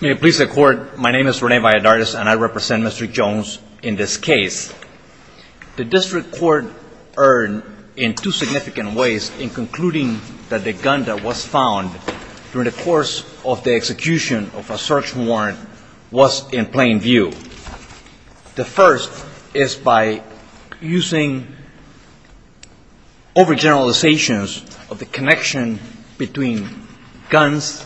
May it please the court, my name is Rene Valladares and I represent Mr. Jones in this case. The district court erred in two significant ways in concluding that the gun that was found during the course of the execution of a search warrant was in plain view. The first is by using overgeneralizations of the connection between guns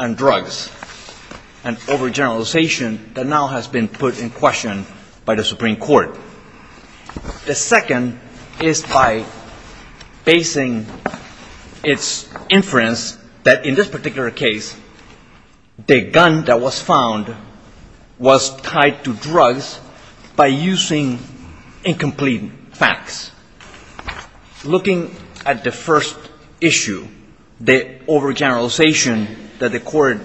and drugs, an overgeneralization that now has been put in question by the Supreme Court. The second is by basing its inference that in this particular case the gun that was found was tied to drugs by using incomplete facts. Looking at the first issue, the overgeneralization that the court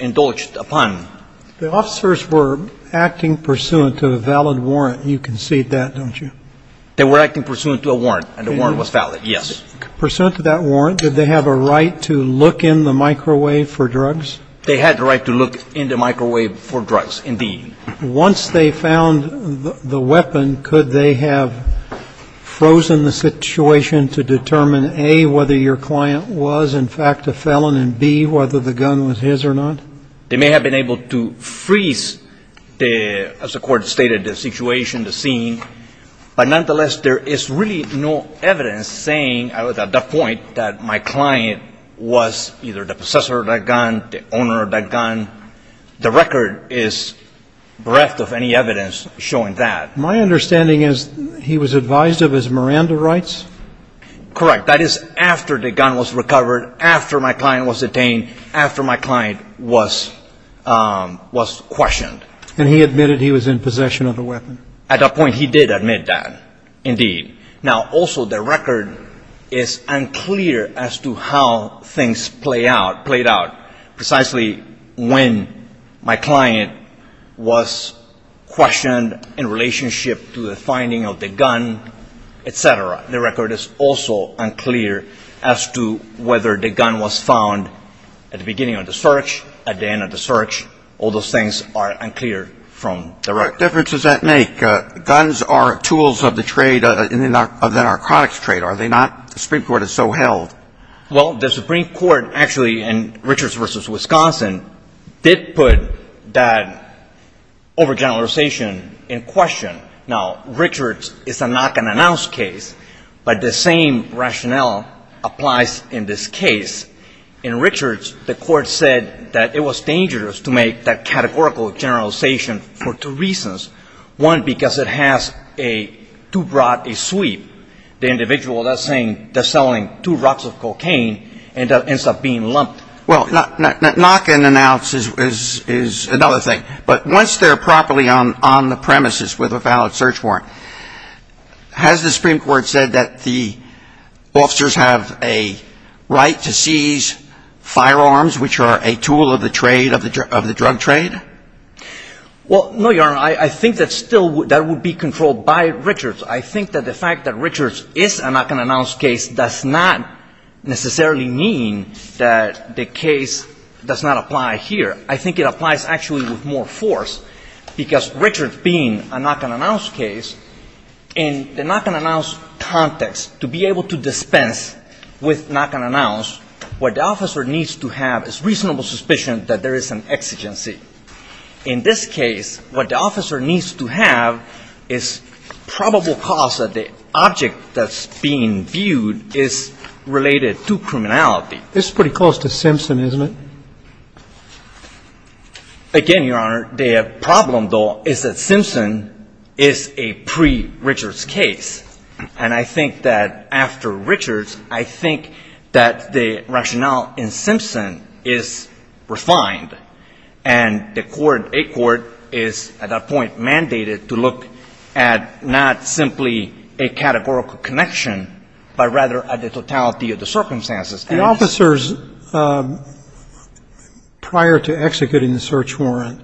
indulged upon. The officers were acting pursuant to a valid warrant. You concede that, don't you? They were acting pursuant to a warrant and the warrant was valid, yes. Pursuant to that warrant, did they have a right to look in the microwave for drugs? They had the right to look in the microwave for drugs, indeed. Once they found the weapon, could they have frozen the situation to determine, A, whether your client was in fact a felon and, B, whether the gun was his or not? They may have been able to freeze the, as the Court stated, the situation, the scene. But nonetheless, there is really no evidence saying at that point that my client was either the possessor of that gun, the owner of that gun. The record is bereft of any evidence showing that. My understanding is he was advised of his Miranda rights? Correct. That is after the gun was recovered, after my client was detained, after my client was questioned. And he admitted he was in possession of the weapon? At that point, he did admit that, indeed. Now, also, the record is unclear as to how things played out precisely when my client was questioned in relationship to the finding of the gun, etc. The record is also unclear as to whether the gun was found at the beginning of the search, at the end of the search. All those things are unclear from the record. What difference does that make? Guns are tools of the trade, of the narcotics trade, are they not? The Supreme Court is so held. Well, the Supreme Court, actually, in Richards v. Wisconsin, did put that overgeneralization in question. Now, Richards is a knock-and-announce case, but the same rationale applies in this case. In Richards, the court said that it was dangerous to make that categorical generalization for two reasons. One, because it has too broad a sweep. The individual that's selling two rocks of cocaine ends up being lumped. Well, knock-and-announce is another thing. But once they're properly on the premises with a valid search warrant, has the Supreme Court said that the officers have a right to seize firearms, which are a tool of the trade, of the drug trade? Well, no, Your Honor. I think that still would be controlled by Richards. I think that the fact that Richards is a knock-and-announce case does not necessarily mean that the case does not apply here. I think it applies actually with more force, because Richards being a knock-and-announce case, in the knock-and-announce context, to be able to dispense with knock-and-announce, what the officer needs to have is reasonable suspicion that there is an exigency. In this case, what the officer needs to have is probable cause that the object that's being viewed is related to criminality. This is pretty close to Simpson, isn't it? Again, Your Honor, the problem, though, is that Simpson is a pre-Richards case. And I think that after Richards, I think that the rationale in Simpson is refined. And the court, a court, is at that point mandated to look at not simply a categorical connection, but rather at the totality of the circumstances. The officers prior to executing the search warrant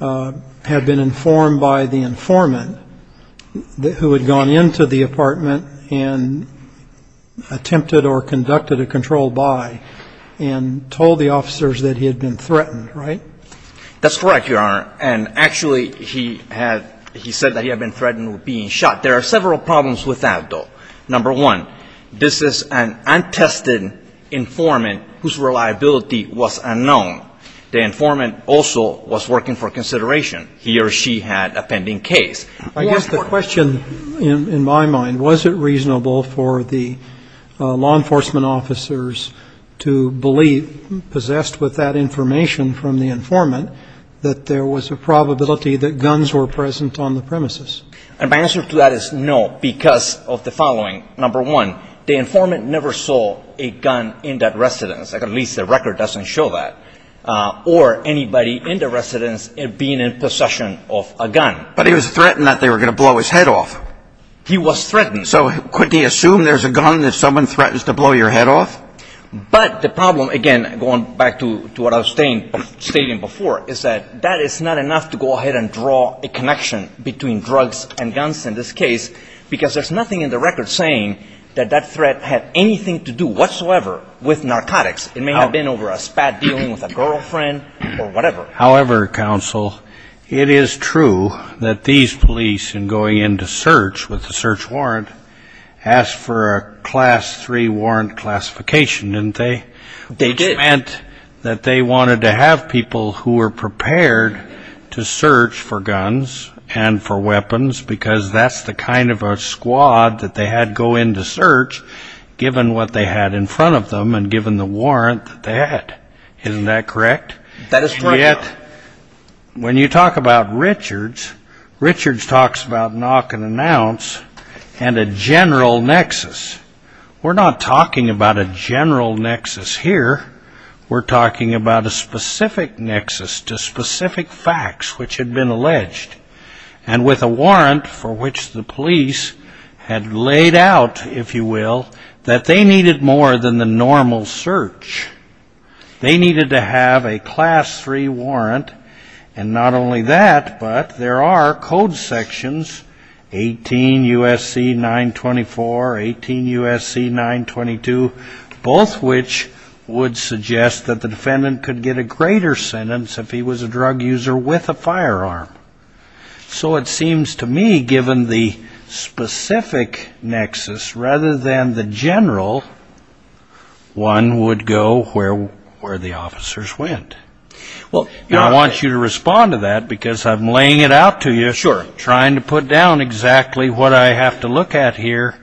have been informed by the informant who had gone into the apartment and attempted or conducted a control by and told the officers that he had been threatened, right? That's correct, Your Honor. And actually, he had he said that he had been threatened with being shot. There are several problems with that, though. Number one, this is an untested informant whose reliability was unknown. The informant also was working for consideration. He or she had a pending case. I guess the question in my mind, was it reasonable for the law enforcement officers to believe, possessed with that information from the informant, that there was a probability that guns were present on the premises? And my answer to that is no, because of the following. Number one, the informant never saw a gun in that residence. At least the record doesn't show that. Or anybody in the residence being in possession of a gun. But he was threatened that they were going to blow his head off. He was threatened. So couldn't he assume there's a gun if someone threatens to blow your head off? But the problem, again, going back to what I was stating before, is that that is not enough to go ahead and draw a connection between drugs and guns in this case, because there's nothing in the record saying that that threat had anything to do whatsoever with narcotics. It may have been over a spat dealing with a girlfriend or whatever. However, counsel, it is true that these police, in going into search with the search warrant, asked for a Class III warrant classification, didn't they? They did. And that meant that they wanted to have people who were prepared to search for guns and for weapons, because that's the kind of a squad that they had go in to search, given what they had in front of them and given the warrant that they had. Isn't that correct? That is correct, Your Honor. And yet, when you talk about Richards, Richards talks about knock and announce and a general nexus. We're not talking about a general nexus here. We're talking about a specific nexus to specific facts which had been alleged, and with a warrant for which the police had laid out, if you will, that they needed more than the normal search. They needed to have a Class III warrant, and not only that, but there are code sections, 18 U.S.C. 924, 18 U.S.C. 922, both which would suggest that the defendant could get a greater sentence if he was a drug user with a firearm. So it seems to me, given the specific nexus, rather than the general, one would go where the officers went. And I want you to respond to that because I'm laying it out to you, trying to put down exactly what I have to look at here,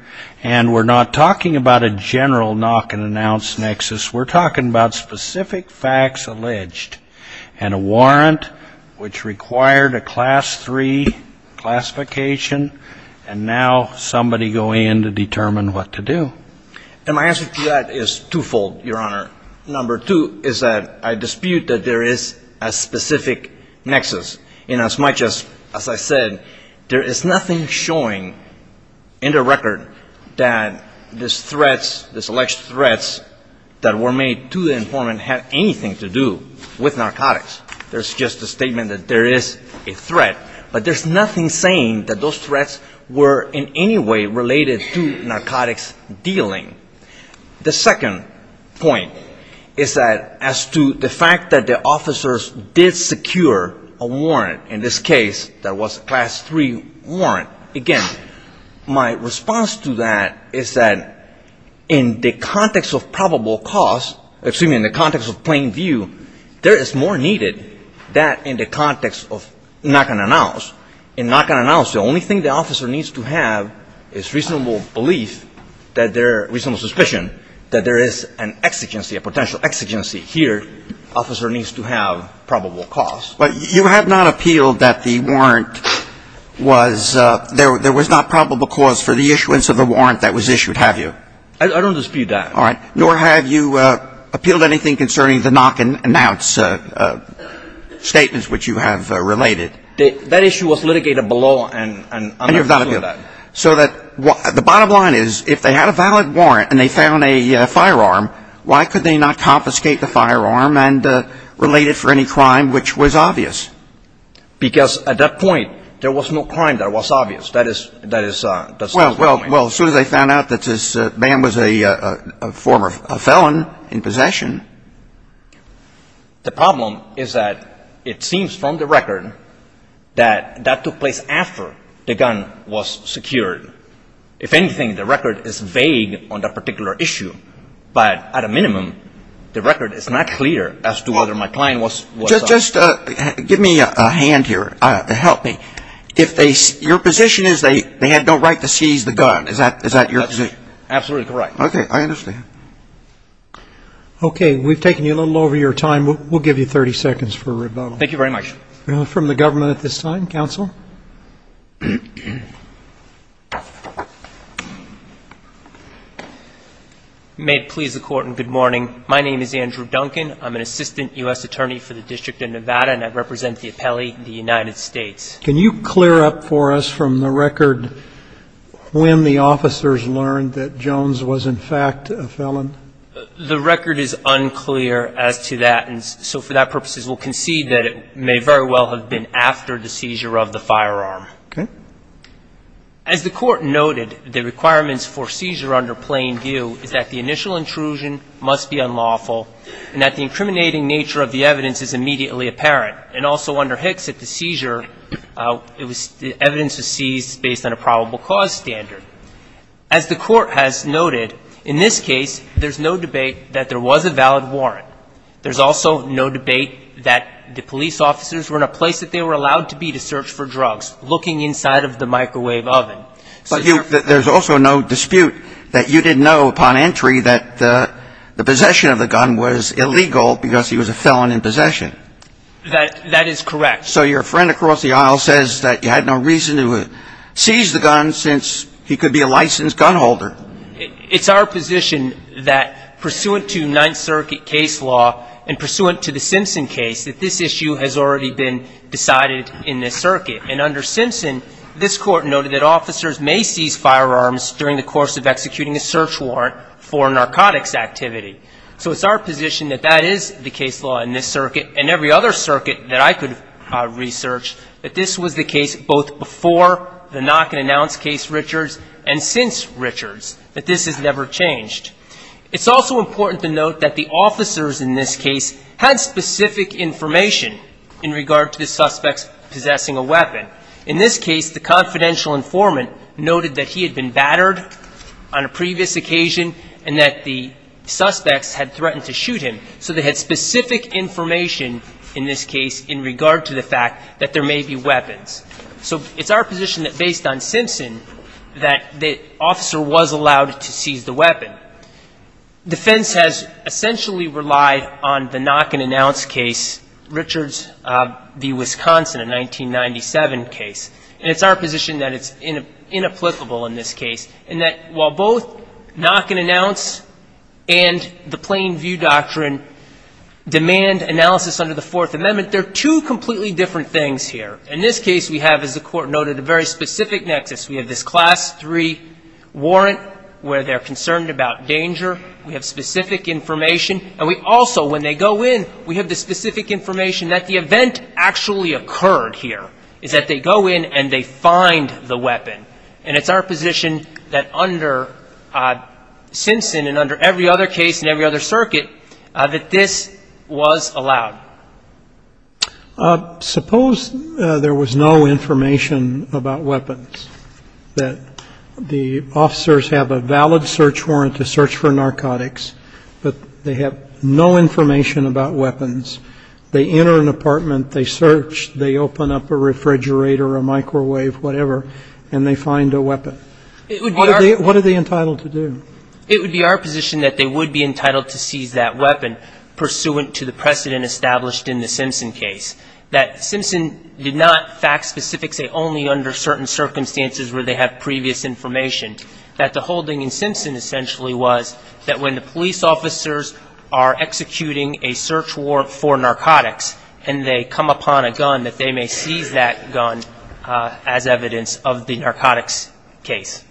and we're not talking about a general knock and announce nexus. We're talking about specific facts alleged and a warrant which required a Class III classification, and now somebody going in to determine what to do. And my answer to that is twofold, Your Honor. Number two is that I dispute that there is a specific nexus, inasmuch as, as I said, there is nothing showing in the record that these threats, these alleged threats that were made to the informant had anything to do with narcotics. There's just a statement that there is a threat, but there's nothing saying that those threats were in any way related to narcotics dealing. The second point is that as to the fact that the officers did secure a warrant, in this case that was a Class III warrant, again, my response to that is that in the context of probable cause, excuse me, in the context of plain view, there is more needed than in the context of knock and announce. In knock and announce, the only thing the officer needs to have is reasonable belief that their reasonable suspicion that there is an exigency, a potential exigency. Here, officer needs to have probable cause. But you have not appealed that the warrant was – there was not probable cause for the issuance of the warrant that was issued, have you? I don't dispute that. All right. Nor have you appealed anything concerning the knock and announce statements which you have related. That issue was litigated below and under that. So that the bottom line is if they had a valid warrant and they found a firearm, why could they not confiscate the firearm and relate it for any crime which was obvious? Because at that point, there was no crime that was obvious. That is the second point. Well, as soon as they found out that this man was a former felon in possession. The problem is that it seems from the record that that took place after the gun was secured. If anything, the record is vague on that particular issue. But at a minimum, the record is not clear as to whether my client was – Just give me a hand here. Help me. If they – your position is they had no right to seize the gun. Is that your position? Absolutely correct. Okay. I understand. Okay. We've taken you a little over your time. We'll give you 30 seconds for rebuttal. Thank you very much. From the government at this time. Counsel. May it please the Court and good morning. My name is Andrew Duncan. I'm an assistant U.S. attorney for the District of Nevada, and I represent the appellee, the United States. Can you clear up for us from the record when the officers learned that Jones was in fact a felon? The record is unclear as to that, and so for that purposes we'll concede that it may very well have been after the seizure of the firearm. Okay. As the Court noted, the requirements for seizure under plain view is that the initial intrusion must be unlawful and that the incriminating nature of the evidence is immediately apparent. And also under Hicks, at the seizure, the evidence was seized based on a probable cause standard. As the Court has noted, in this case, there's no debate that there was a valid warrant. There's also no debate that the police officers were in a place that they were allowed to be to search for drugs, looking inside of the microwave oven. But there's also no dispute that you didn't know upon entry that the possession of the gun was illegal because he was a felon in possession. That is correct. So your friend across the aisle says that you had no reason to seize the gun since he could be a licensed gun holder. It's our position that, pursuant to Ninth Circuit case law and pursuant to the Simpson case, that this issue has already been decided in this circuit. And under Simpson, this Court noted that officers may seize firearms during the course of executing a search warrant for narcotics activity. So it's our position that that is the case law in this circuit and every other circuit that I could research, that this was the case both before the knock-and-announce case, Richards, and since Richards, that this has never changed. It's also important to note that the officers in this case had specific information in regard to the suspects possessing a weapon. In this case, the confidential informant noted that he had been battered on a previous occasion and that the suspects had threatened to shoot him. So they had specific information in this case in regard to the fact that there may be weapons. So it's our position that, based on Simpson, that the officer was allowed to seize the weapon. Defense has essentially relied on the knock-and-announce case, Richards v. Wisconsin, a 1997 case. And it's our position that it's inapplicable in this case in that while both knock-and-announce and the plain view doctrine demand analysis under the Fourth Amendment, there are two completely different things here. In this case, we have, as the Court noted, a very specific nexus. We have this Class III warrant where they're concerned about danger. We have specific information, and we also, when they go in, we have the specific information that the event actually occurred here, is that they go in and they find the weapon. And it's our position that under Simpson and under every other case and every other circuit that this was allowed. Suppose there was no information about weapons, that the officers have a valid search warrant to search for narcotics, but they have no information about weapons. They enter an apartment. They search. They open up a refrigerator, a microwave, whatever, and they find a weapon. What are they entitled to do? It would be our position that they would be entitled to seize that weapon, pursuant to the precedent established in the Simpson case, that Simpson did not fact-specific say only under certain circumstances where they have previous information, that the whole thing in Simpson essentially was that when the police officers are executing a search warrant for narcotics and they come upon a gun, that they may seize that gun as evidence of the narcotics case.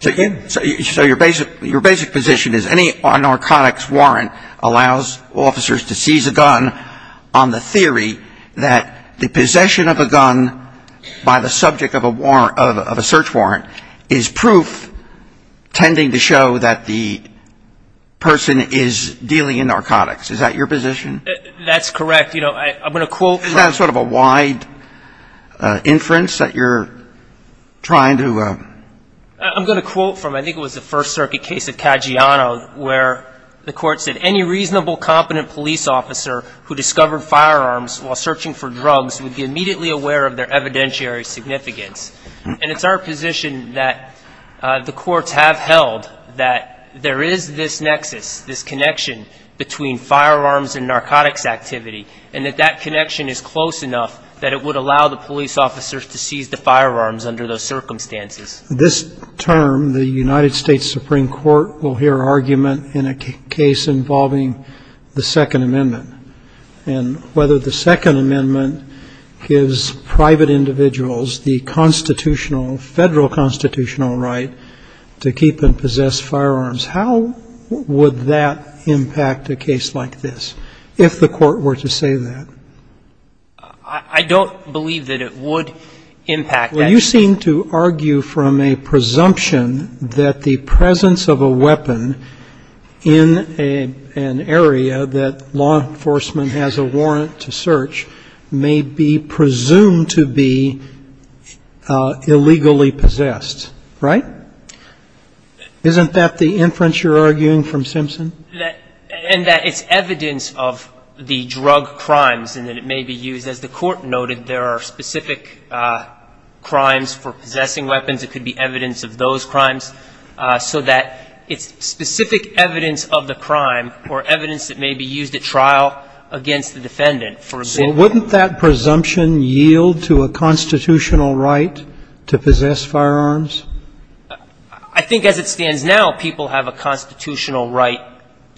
So your basic position is any narcotics warrant allows officers to seize a gun on the theory that the possession of a gun by the subject of a search warrant is proof tending to show that the person is dealing in narcotics. Is that your position? That's correct. You know, I'm going to quote from... Isn't that sort of a wide inference that you're trying to... I'm going to quote from, I think it was the First Circuit case of Caggiano, where the court said, any reasonable, competent police officer who discovered firearms while searching for drugs would be immediately aware of their evidentiary significance. And it's our position that the courts have held that there is this nexus, this connection between firearms and narcotics activity, and that that connection is close enough that it would allow the police officers to seize the firearms under those circumstances. This term, the United States Supreme Court will hear argument in a case involving the Second Amendment, and whether the Second Amendment gives private individuals the constitutional, federal constitutional right to keep and possess firearms. How would that impact a case like this, if the court were to say that? I don't believe that it would impact that. Well, you seem to argue from a presumption that the presence of a weapon in an area that law enforcement has a warrant to search may be presumed to be illegally possessed. Right? Isn't that the inference you're arguing from Simpson? And that it's evidence of the drug crimes and that it may be used. As the court noted, there are specific crimes for possessing weapons. It could be evidence of those crimes. So that it's specific evidence of the crime or evidence that may be used at trial against the defendant. So wouldn't that presumption yield to a constitutional right to possess firearms? I think as it stands now, people have a constitutional right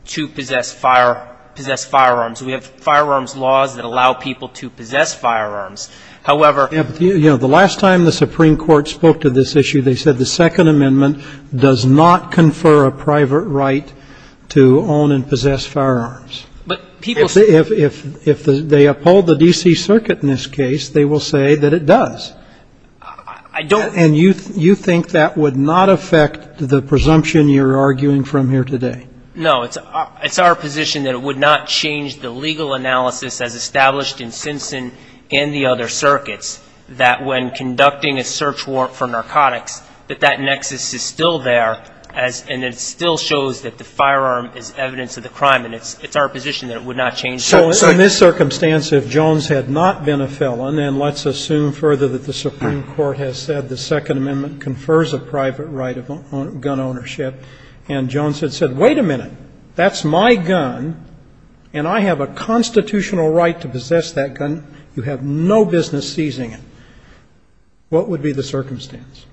to possess fire, possess firearms. We have firearms laws that allow people to possess firearms. However. You know, the last time the Supreme Court spoke to this issue, they said the Second Amendment does not confer a private right to own and possess firearms. But people say. If they uphold the D.C. Circuit in this case, they will say that it does. I don't. And you think that would not affect the presumption you're arguing from here today? No. It's our position that it would not change the legal analysis as established in Simpson and the other circuits. That when conducting a search warrant for narcotics, that that nexus is still there. And it still shows that the firearm is evidence of the crime. And it's our position that it would not change that. So in this circumstance, if Jones had not been a felon, then let's assume further that the Supreme Court has said the Second Amendment confers a private right of gun ownership. And Jones had said, wait a minute. That's my gun. And I have a constitutional right to possess that gun. You have no business seizing it. What would be the circumstance?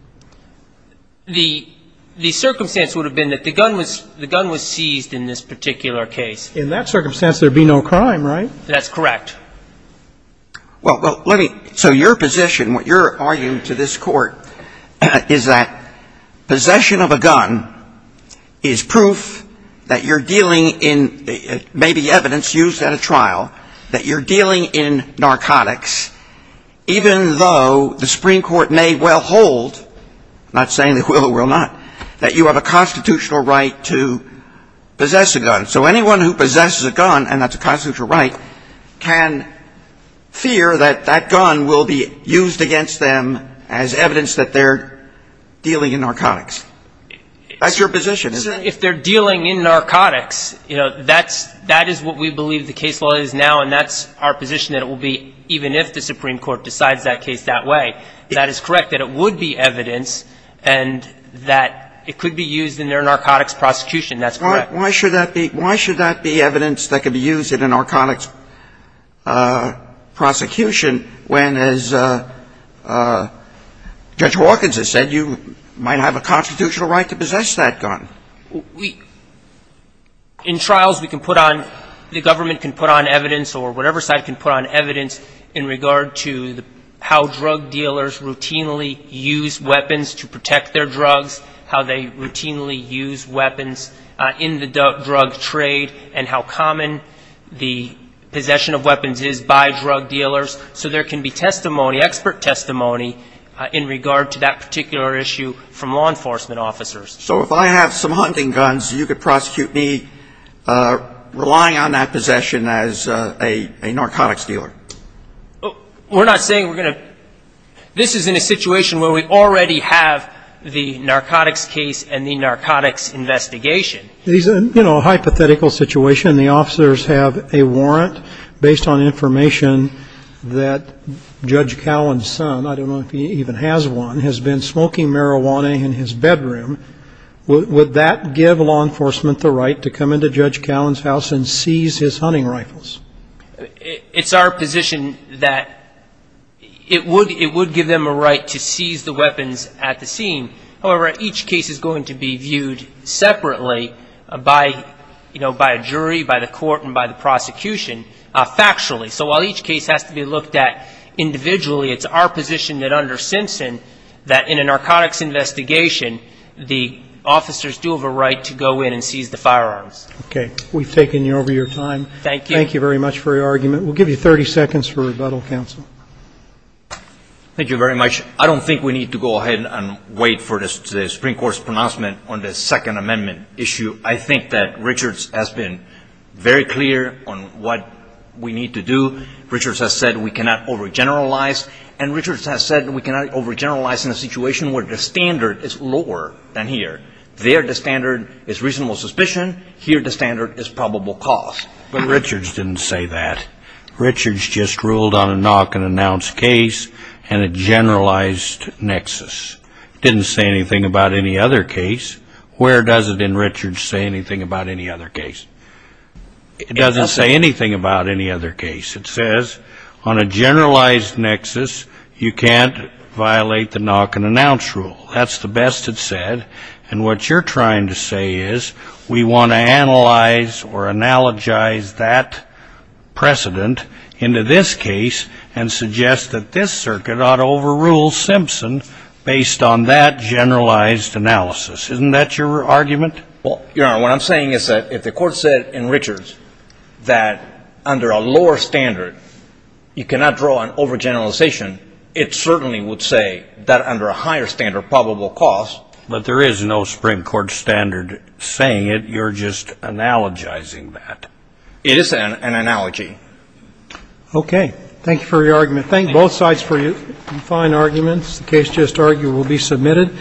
The circumstance would have been that the gun was seized in this particular case. In that circumstance, there would be no crime, right? That's correct. Well, let me, so your position, what you're arguing to this Court is that possession of a gun is proof that you're dealing in maybe evidence used at a trial, that you're dealing in narcotics, even though the Supreme Court may well hold, not saying that it will or will not, that you have a constitutional right to possess a gun. So anyone who possesses a gun, and that's a constitutional right, can fear that that gun will be used against them as evidence that they're dealing in narcotics. That's your position, isn't it? If they're dealing in narcotics, you know, that is what we believe the case law is now, and that's our position, that it will be, even if the Supreme Court decides that case that way. That is correct, that it would be evidence, and that it could be used in their narcotics prosecution. That's correct. Why should that be evidence that could be used in a narcotics prosecution when, as Judge Hawkins has said, you might have a constitutional right to possess that gun? In trials, we can put on, the government can put on evidence or whatever side can put on evidence in regard to how drug dealers routinely use weapons to protect their drugs, how they routinely use weapons in the drug trade, and how common the possession of weapons is by drug dealers. So there can be testimony, expert testimony, in regard to that particular issue from law enforcement officers. So if I have some hunting guns, you could prosecute me relying on that possession as a narcotics dealer? We're not saying we're going to, this is in a situation where we already have the narcotics case and the narcotics investigation. These are, you know, a hypothetical situation. The officers have a warrant based on information that Judge Cowan's son, I don't know if he even has one, has been smoking marijuana in his bedroom. Would that give law enforcement the right to come into Judge Cowan's house and seize his hunting rifles? It's our position that it would give them a right to seize the weapons at the scene. However, each case is going to be viewed separately by, you know, by a jury, by the court, and by the prosecution factually. So while each case has to be looked at individually, it's our position that under Simpson that in a narcotics investigation, the officers do have a right to go in and seize the firearms. Okay. We've taken over your time. Thank you. Thank you very much for your argument. We'll give you 30 seconds for rebuttal, counsel. Thank you very much. I don't think we need to go ahead and wait for the Supreme Court's pronouncement on the Second Amendment issue. I think that Richards has been very clear on what we need to do. Richards has said we cannot overgeneralize, and Richards has said we cannot overgeneralize in a situation where the standard is lower than here. There the standard is reasonable suspicion. Here the standard is probable cause. But Richards didn't say that. Richards just ruled on a knock-and-announce case and a generalized nexus. It didn't say anything about any other case. Where does it in Richards say anything about any other case? It doesn't say anything about any other case. It says on a generalized nexus you can't violate the knock-and-announce rule. That's the best it said. And what you're trying to say is we want to analyze or analogize that precedent into this case and suggest that this circuit ought to overrule Simpson based on that generalized analysis. Isn't that your argument? Well, Your Honor, what I'm saying is that if the court said in Richards that under a lower standard you cannot draw an overgeneralization, it certainly would say that under a higher standard probable cause. But there is no Supreme Court standard saying it. You're just analogizing that. It is an analogy. Okay. Thank you for your argument. Thank both sides for your fine arguments. The case just argued will be submitted.